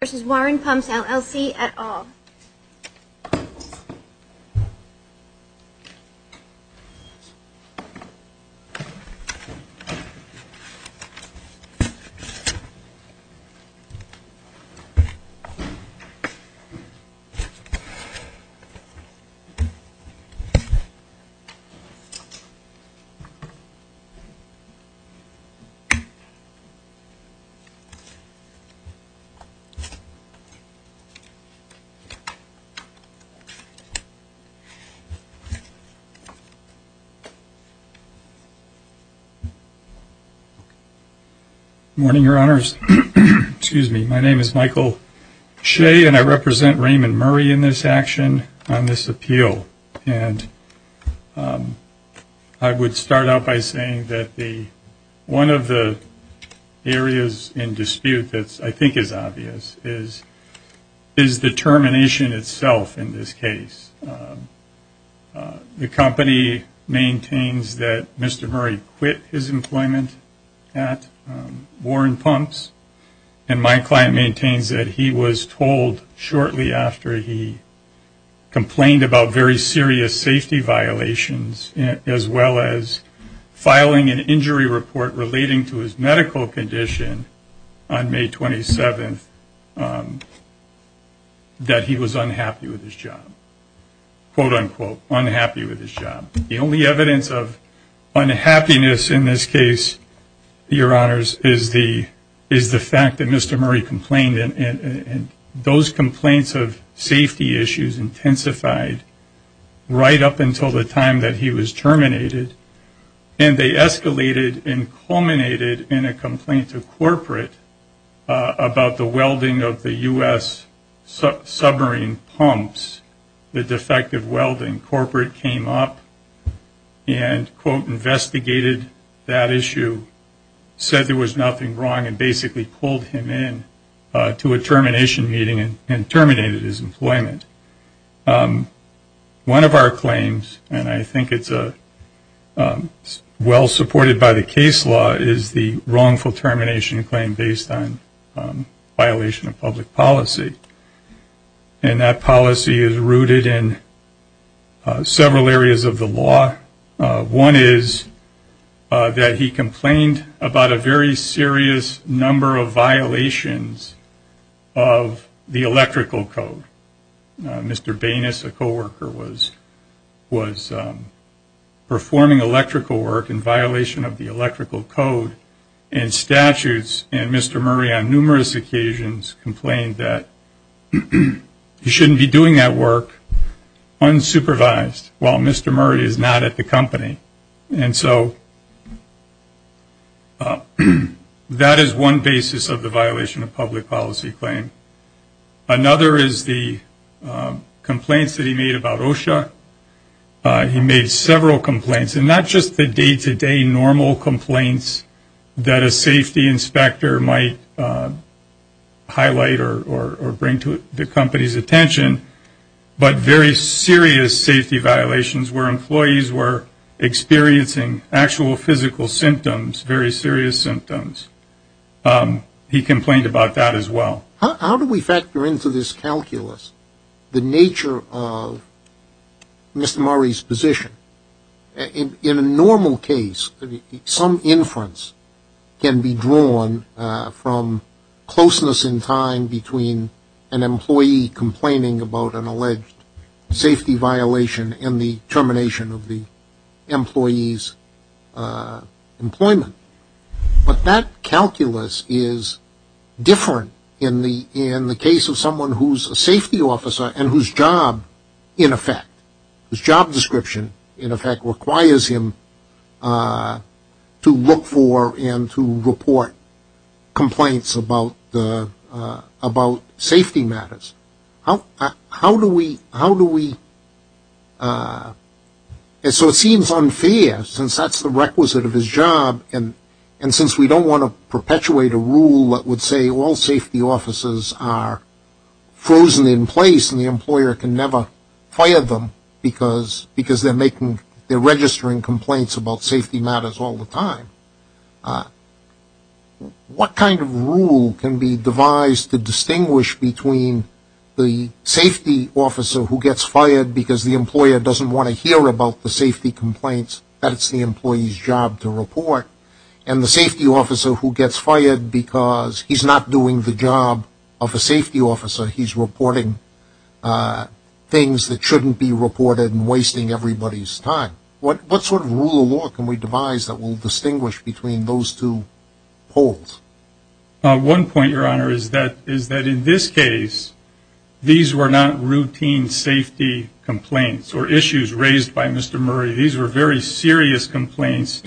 v. Warren Pumps, LLC, et al. Good morning, Your Honors, excuse me, my name is Michael Shea and I represent Raymond Murray in this action on this appeal and I would start out by saying that one of the areas in dispute that I think is obvious is the termination itself in this case. The company maintains that Mr. Murray quit his employment at Warren Pumps and my client maintains that he was told shortly after he complained about very serious safety violations as well as on May 27th that he was unhappy with his job. Quote unquote unhappy with his job. The only evidence of unhappiness in this case, Your Honors, is the fact that Mr. Murray complained and those complaints of safety issues intensified right up until the time that he was terminated and they escalated and culminated in a complaint to corporate about the welding of the US submarine pumps, the defective welding. Corporate came up and quote investigated that issue, said there was nothing wrong, and basically pulled him in to a termination meeting and terminated his employment. Well supported by the case law is the wrongful termination claim based on violation of public policy. And that policy is rooted in several areas of the law. One is that he complained about a very serious number of violations of the electrical code. Mr. Banus, a man doing electrical work in violation of the electrical code and statutes and Mr. Murray on numerous occasions complained that he shouldn't be doing that work unsupervised while Mr. Murray is not at the company. And so that is one basis of the violation of public policy claim. Another is the complaints that he made about OSHA. He made several complaints, and not just the day-to-day normal complaints that a safety inspector might highlight or bring to the company's attention, but very serious safety violations where employees were experiencing actual physical symptoms, very serious symptoms. He complained about that as well. How do we factor into this calculus the nature of Mr. Murray's position? In a normal case, some inference can be drawn from closeness in time between an employee complaining about an alleged safety violation and the termination of the employee's employment. But that calculus is different in the case of someone who's a safety officer and whose job, in effect, whose job description, in effect, requires him to look for and to report complaints about safety matters. How do we, how do we, so it seems unfair, since that's the requisite of his job, and since we don't want to perpetuate a rule that would say all safety officers are frozen in place and the employer can never fire them because they're making, they're registering complaints about safety matters all the time, what kind of rule can be devised to distinguish between the safety officer who gets fired because the employer doesn't want to hear about the safety complaints that it's the employee's job to report, and the safety officer who gets fired because he's not doing the job of a safety officer, he's reporting things that shouldn't be reported and wasting everybody's time. What sort of rule of law can we devise that will distinguish between those two poles? One point, Your Honor, is that in this case, these were not routine safety complaints or issues raised by Mr. Murray. These were very serious complaints,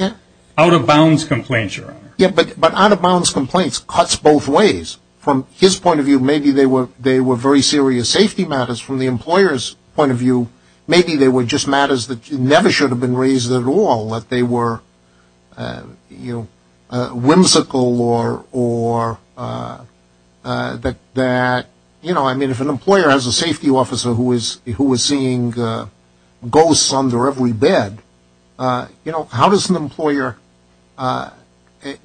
out-of-bounds complaints, Your Honor. Yeah, but out-of-bounds complaints cuts both ways. From his point of view, maybe they were very serious safety matters. From the employer's point of view, maybe they were just matters that you shouldn't have been raised at all, that they were, you know, whimsical or that, you know, I mean, if an employer has a safety officer who is seeing ghosts under every bed, you know, how does an employer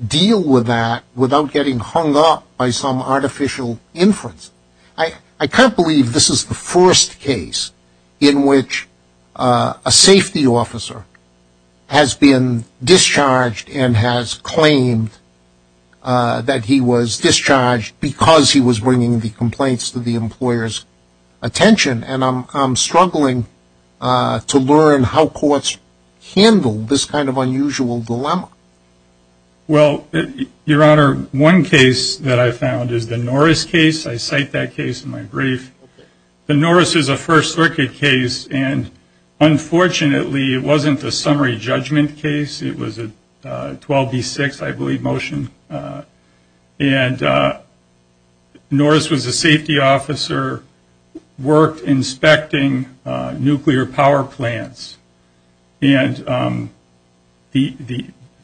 deal with that without getting hung up by some artificial inference? I can't believe this is the first case in which a safety officer has been discharged and has claimed that he was discharged because he was bringing the complaints to the employer's attention, and I'm struggling to learn how courts handle this kind of unusual dilemma. Well, Your Honor, one case that I found is the Norris case. I cite that case in my brief. The Norris is a First Circuit case, and unfortunately, it wasn't a summary judgment case. It was a 12-B-6, I believe, motion, and Norris was a safety officer, worked inspecting nuclear power plants, and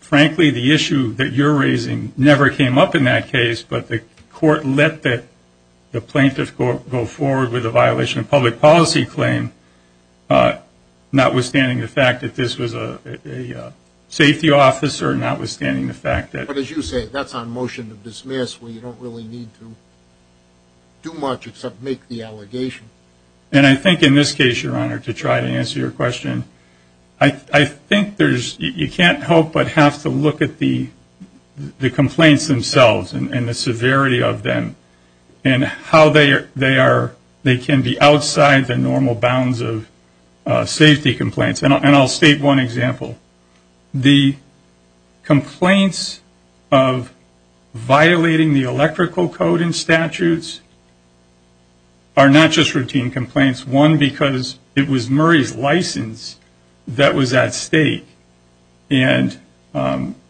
frankly, the issue that you're raising never came up in that case, but the court let the plaintiff go forward with a violation of public policy claim, notwithstanding the fact that this was a safety officer, notwithstanding the fact that this was a safety officer, but as you say, that's on motion to dismiss where you don't really need to do much except make the allegation. And I think in this case, Your Honor, to try to answer your question, I think there's, you can't help but have to look at the complaints themselves and the severity of them and how they are, they can be outside the normal bounds of safety complaints, and I'll state one example. The complaints of violating the electrical code in statutes are not just routine complaints, one, because it was Murray's license that was at stake, and Can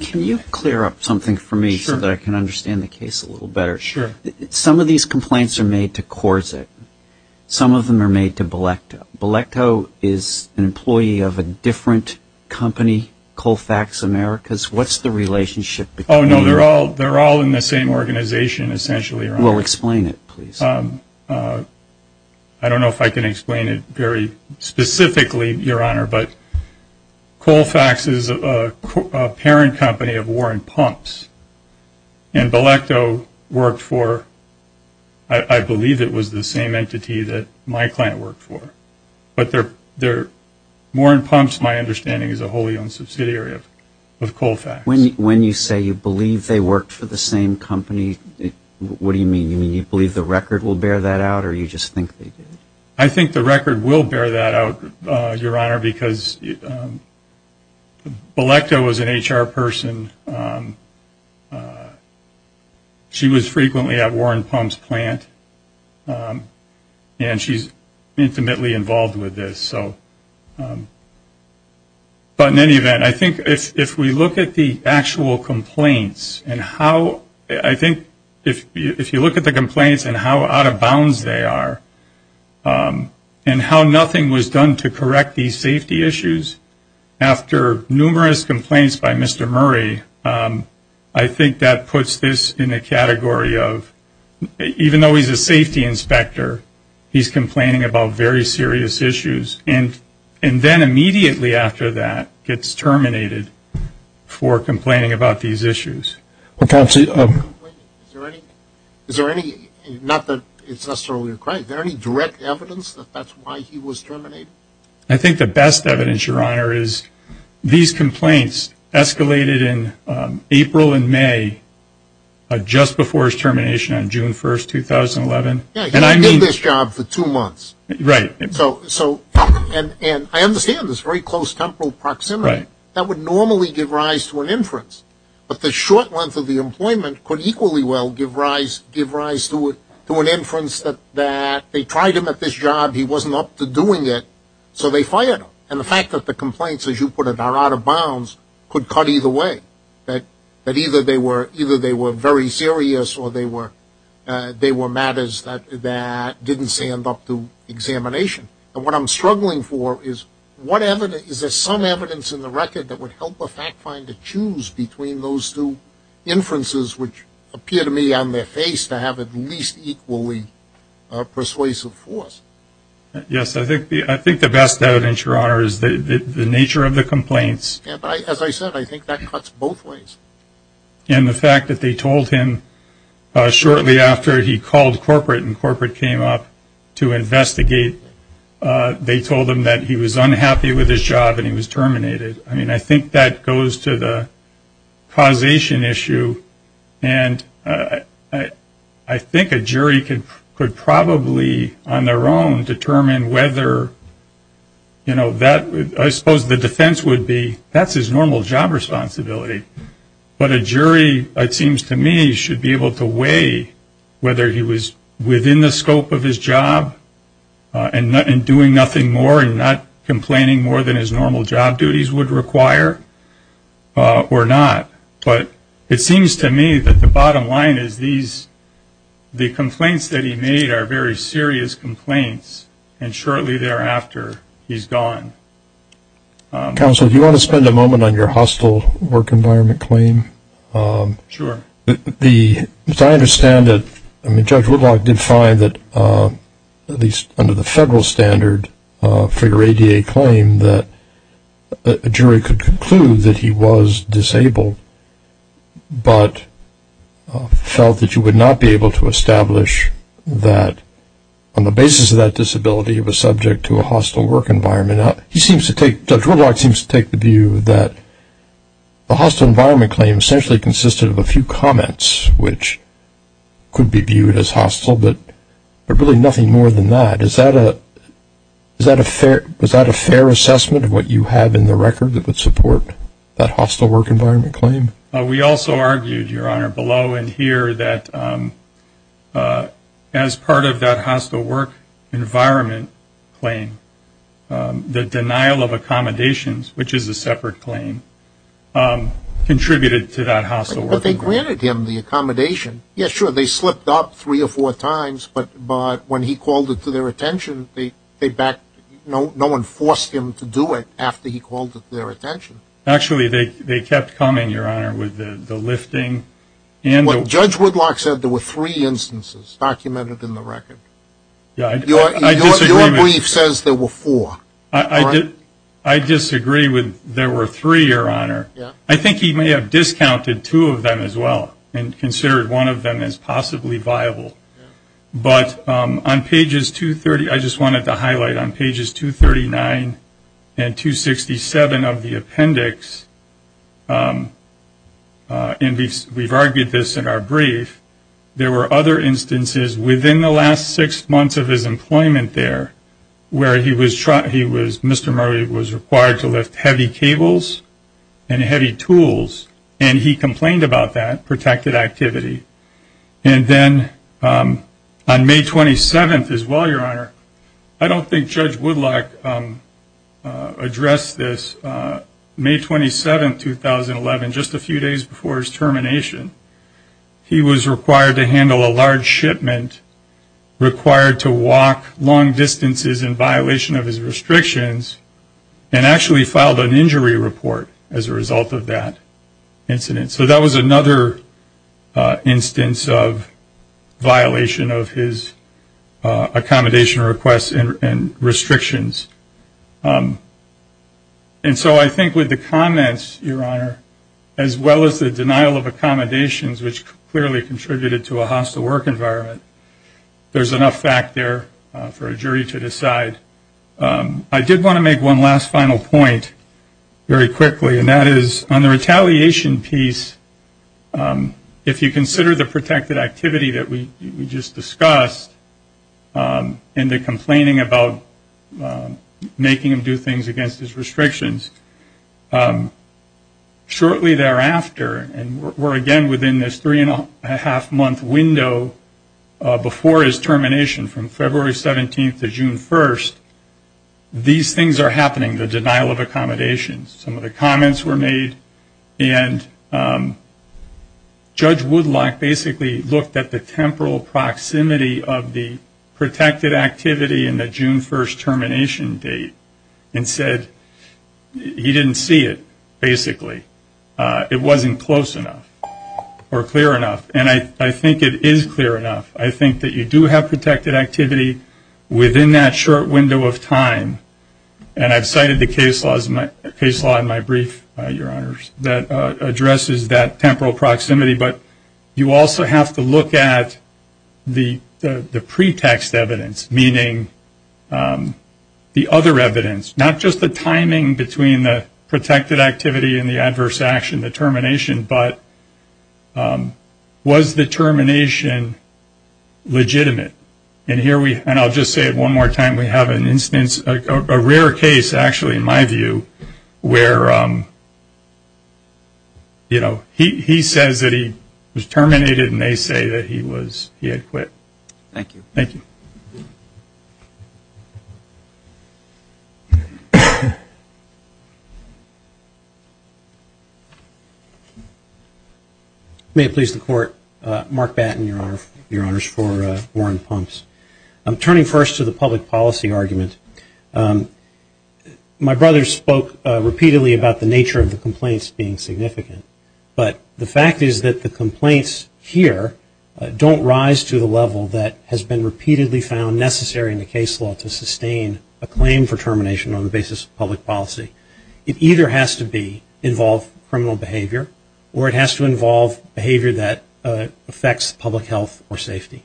you clear up something for me so that I can understand the case a little better? Sure. Some of these complaints are made to Corsic. Some of them are made to Belecto. Belecto is an employee of a different company, Colfax Americas. What's the relationship between them? Oh, no, they're all in the same organization, essentially, Your Honor. Well, explain it, please. I don't know if I can explain it very specifically, Your Honor, but Colfax is a parent company of Warren Pumps, and Belecto worked for, I believe it was the same entity that my client worked for, but they're, Warren Pumps, my understanding, is a wholly owned subsidiary of Colfax. When you say you believe they worked for the same company, what do you mean? You mean you believe the record will bear that out, or you just think they did? I think the record will bear that out, Your Honor, because Belecto is an HR person. She was frequently at Warren Pumps' plant, and she's intimately involved with this, so, but in any event, I think if we look at the actual and how nothing was done to correct these safety issues, after numerous complaints by Mr. Murray, I think that puts this in a category of, even though he's a safety inspector, he's complaining about very serious issues, and then immediately after that gets terminated for complaining about these issues. Is there any, not that it's necessarily a crime, is there any direct evidence that that's why he was terminated? I think the best evidence, Your Honor, is these complaints escalated in April and May, just before his termination on June 1st, 2011. Yeah, he didn't get this job for two months, and I understand this very close temporal proximity. That would normally give rise to an inference, but the short length of the employment could equally well give rise to an inference that they tried him at this job, he wasn't up to doing it, so they fired him. And the fact that the complaints, as you put it, are out of bounds, could cut either way. That either they were very serious, or they were matters that didn't stand up to examination. And what I'm struggling for is, is there some evidence in the record that would help a fact finder choose between those two inferences, which appear to me on their face to have at least equally persuasive force? Yes, I think the best evidence, Your Honor, is the nature of the complaints. Yeah, but as I said, I think that cuts both ways. And the fact that they told him shortly after he called corporate and corporate came up to investigate, they told him that he was unhappy with his job and he was terminated. I mean, I think that goes to the causation issue, and I think a jury could probably, on their own, determine whether, you know, I suppose the defense would be, that's his normal job responsibility. But a jury, it seems to me, should be able to weigh whether he was within the scope of his job and doing nothing more and not complaining more than his normal job duties would require or not. But it seems to me that the bottom line is these, the complaints that he made are very serious complaints, and shortly thereafter, he's gone. Counsel, do you want to spend a moment on your hostile work environment claim? Sure. The, as I understand it, I mean, Judge Woodlock did find that, at least under the federal standard for your ADA claim, that a jury could conclude that he was disabled, but felt that you would not be able to establish that, on the basis of that disability, he was subject to a hostile work environment. He seems to take, Judge Woodlock seems to take the view that the hostile environment claim essentially consisted of a few comments, which could be viewed as hostile, but really nothing more than that. Is that a fair assessment of what you have in the record that would support that hostile work environment claim? We also argued, Your Honor, below and here, that as part of that hostile work environment claim, the denial of accommodations, which is a separate claim, contributed to that hostile work environment. But they granted him the accommodation. Yeah, sure, they slipped up three or four times, but when he called it to their attention, they backed, no one forced him to do it after he called it to their attention. Actually, they kept coming, Your Honor, with the lifting. Judge Woodlock said there were three instances documented in the record. Your brief says there were four. I disagree with there were three, Your Honor. I think he may have discounted two of them as well and considered one of them as possibly viable. But on pages 230, I just wanted to highlight on pages 239 and 267 of the appendix, and we've argued this in our brief, there were other instances within the last six months of his employment there where Mr. Murray was required to lift heavy cables and heavy tools, and he complained about that protected activity. And then on May 27th as well, Your Honor, I don't think Judge Woodlock addressed this. May 27th, 2011, just a few days before his termination, he was required to handle a large shipment required to walk long distances in violation of his restrictions, and actually filed an injury report as a result of that incident. So that was another instance of violation of his accommodation requests and restrictions. And so I think with the comments, Your Honor, as well as the denial of accommodations, which clearly contributed to a hostile work environment, there's enough fact there for a jury to decide. I did want to make one last final point very quickly, and that is on the retaliation piece, if you consider the protected activity that we just discussed, and the complaining about making him do things against his restrictions, shortly thereafter, and we're again within this three and a half month window before his termination, from February 17th to June 1st, these things are happening, the denial of accommodations. Some of the comments were made, and Judge Woodlock basically looked at the temporal proximity of the protected activity in the June 1st termination date, and said he didn't see it, basically. It wasn't close enough, or clear enough. And I think it is clear enough. I think that you do have protected activity within that short window of time, and I've cited the case law in my brief, Your Honors, that addresses that temporal proximity, but you also have to look at the pretext evidence, meaning the other evidence, not just the timing between the protected activity and the adverse action, the termination, but was the termination legitimate? And here we, and I'll just say it one more time, we have an instance, a rare case, actually, in my view, where, you know, he says that he was terminated, and they say that he was, he had quit. Thank you. Thank you. May it please the Court, Mark Batten, Your Honors, for Warren Pumps. I'm turning first to the public policy argument. My brother spoke repeatedly about the nature of the complaints being significant, but the fact is that the complaints here don't rise to the level that has been repeatedly found necessary in the case law to sustain a claim for termination on the basis of public policy. It either has to be, involve criminal behavior, or it has to involve behavior that affects public health or safety.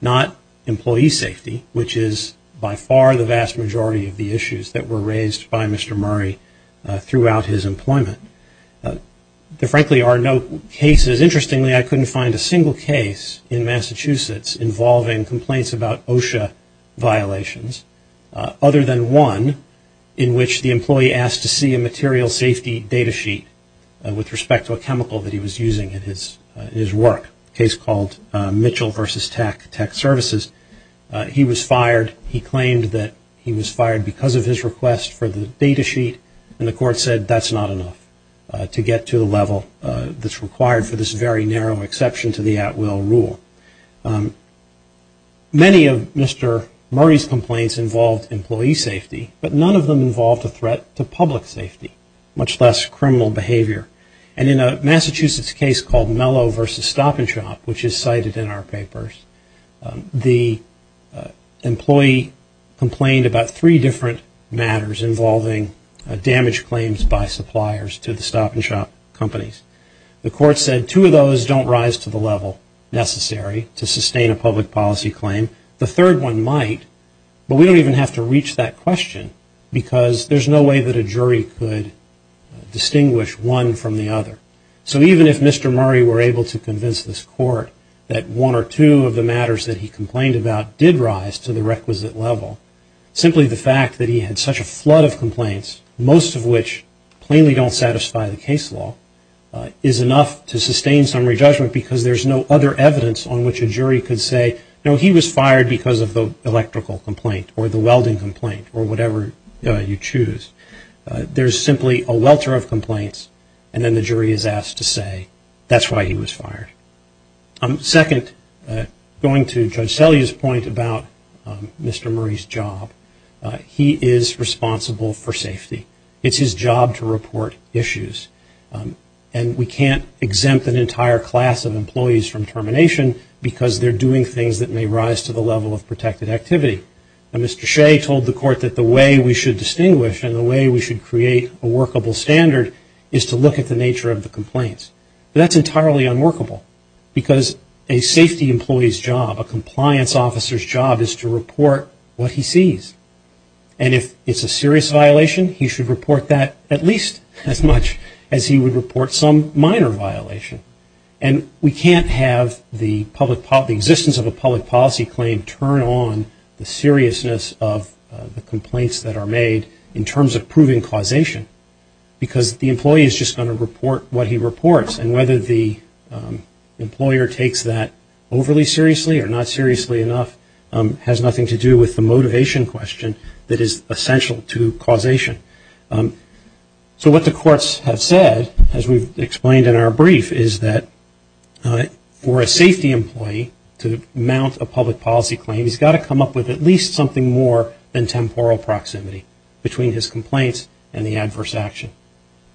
Not employee safety, which is by far the vast majority of the issues that were raised by Mr. Murray throughout his employment. There frankly are no cases, interestingly, I couldn't find a single case in Massachusetts involving complaints about OSHA violations, other than one in which the employee asked to see a material safety data sheet with respect to a chemical that he was using in his work, a case called Mitchell versus Tech, Tech Services. He was fired. He claimed that he was fired because of his request for the data sheet, and the Court said that's not enough to get to the level that's required for this very narrow exception to the at will rule. Many of Mr. Murray's complaints involved employee safety, but none of them involved a threat to public safety, much less criminal behavior. And in a Massachusetts case called Mello versus Stop and Shop, which is cited in our papers, the employee complained about three different matters involving damage claims by suppliers to the Stop and Shop companies. The Court said two of those don't rise to the level necessary to sustain a public policy claim. The third one might, but we don't even have to reach that question because there's no way that a jury could distinguish one from the other. So even if Mr. Murray were able to convince this Court that one or two of the matters that he complained about did rise to the requisite level, simply the fact that he had such a flood of complaints, most of which plainly don't satisfy the case law, is enough to sustain summary judgment because there's no other evidence on which a jury could say, you know, he was fired because of the electrical complaint or the welding complaint or whatever you choose. There's simply a welter of complaints and then the jury is asked to say that's why he was fired. Second, going to Judge Selye's point about Mr. Murray's job, he is responsible for safety. It's his job to report issues. And we can't exempt an entire class of employees from termination because they're doing things that may rise to the level of protected activity. Mr. Shea told the Court that the way we should distinguish and the way we should create a workable standard is to look at the nature of the complaints. That's entirely unworkable because a safety employee's job, a compliance officer's job is to report what he sees. And if it's a serious violation, he should report that at least as much as he would report some minor violation. And we can't have the public policy, the existence of a public policy claim turn on the seriousness of the complaints that are made in terms of proving causation because the employee is just going to report what he reports. And whether the employer takes that overly seriously or not seriously enough has nothing to do with the motivation question that is essential to causation. So what the courts have said, as we've explained in our brief, is that for a safety employee to mount a public policy claim, he's got to come up with at least something more than temporal proximity between his complaints and the adverse action.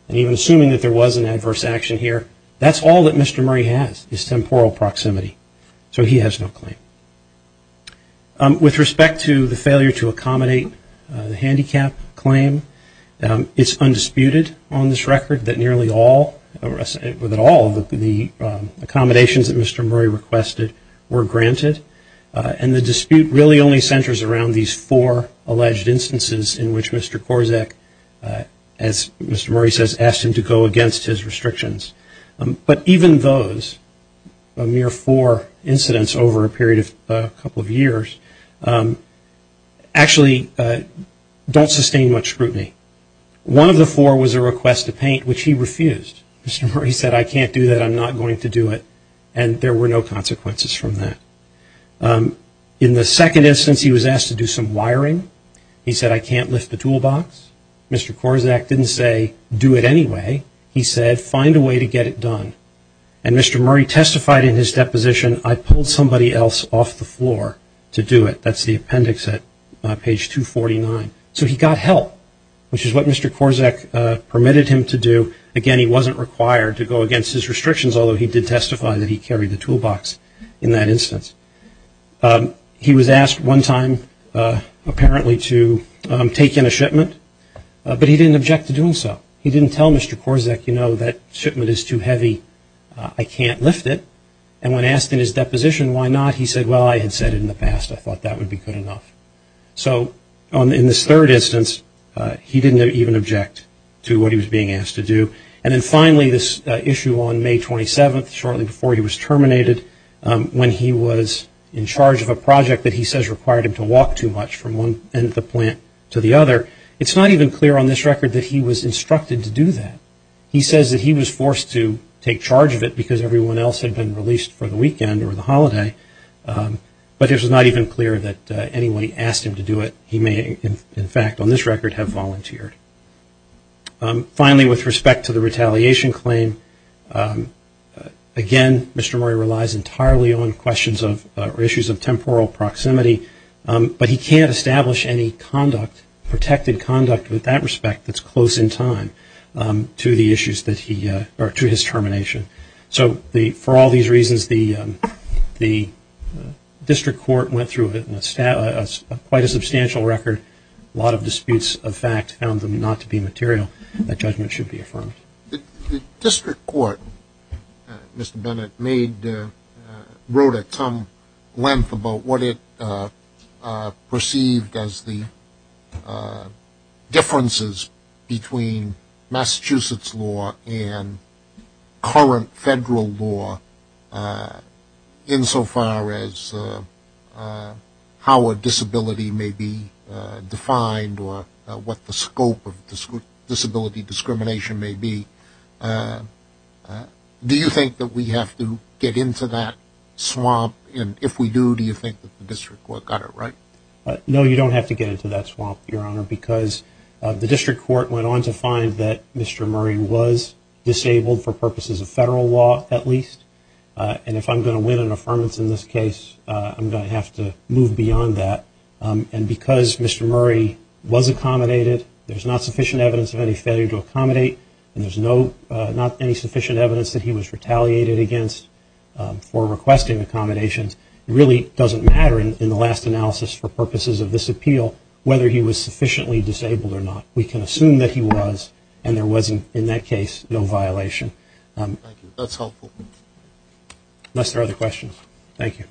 And even assuming that there was an adverse action here, that's all that Mr. Murray has is temporal proximity. So he has no claim. With respect to the failure to accommodate the handicap claim, it's undisputed on this record that nearly all, that all of the accommodations that Mr. Murray requested were granted. And the dispute really only centers around these four alleged instances in which Mr. Korczak, as Mr. Murray says, asked him to go against his restrictions. But even those, a mere four incidents over a period of a couple of years, actually don't sustain much scrutiny. One of the four was a request to paint, which he refused. Mr. Murray said, I can't do that. I'm not going to do it. And there were no consequences from that. In the second instance, he was asked to do some wiring. He said, I can't lift the toolbox. Mr. Korczak didn't say, do it anyway. He said, find a way to get it done. And Mr. Murray testified in his deposition, I pulled somebody else off the floor to do it. That's the appendix at page 249. So he got help, which is what Mr. Korczak permitted him to do. Again, he wasn't required to go against his restrictions, although he did testify that he carried the toolbox in that instance. He was asked one time apparently to take in a shipment, but he didn't object to doing so. He didn't tell Mr. Korczak, you know, that shipment is too heavy. I can't lift it. And when asked in his deposition why not, he said, well, I had said it in the past. I thought that would be good enough. So in this third instance, he didn't even object to what he was being asked to do. And then finally, this issue on May 27th, shortly before he was terminated, when he was in charge of a project that he says required him to walk too much from one end of the plant to the other, it's not even clear on this record that he was instructed to do that. He says that he was forced to take charge of it because everyone else had been released for the weekend or the holiday, but it was not even clear that anyone asked him to do it. He may, in fact, on this record have volunteered. Finally, with respect to the retaliation claim, again, Mr. Murray relies entirely on questions of, or issues of temporal proximity, but he can't establish any conduct, protected conduct with that respect that's close in time to the issues that he, or to his termination. So for all these reasons, the district court went through quite a substantial record. A lot of disputes of fact found them not to be material. That judgment should be affirmed. The district court, Mr. Bennett made, wrote at some length about what it perceived as the differences between Massachusetts law and current federal law insofar as how a disability may be defined or what the scope of disability discrimination may be. Do you think that we have to get into that swamp, and if we do, do you think that the district court got it right? No, you don't have to get into that swamp, Your Honor, because the district court went on to find that Mr. Murray was disabled for purposes of federal law, at least. And if I'm going to win an affirmance in this case, I'm going to have to move beyond that. And because Mr. Murray was accommodated, there's not sufficient evidence of any failure to accommodate, and there's not any sufficient evidence that he was retaliated against for requesting accommodations, it really doesn't matter in the last analysis for purposes of this appeal whether he was sufficiently disabled or not. We can assume that he was, and there was, in that case, no violation. Thank you. That's helpful. Unless there are other questions. Thank you.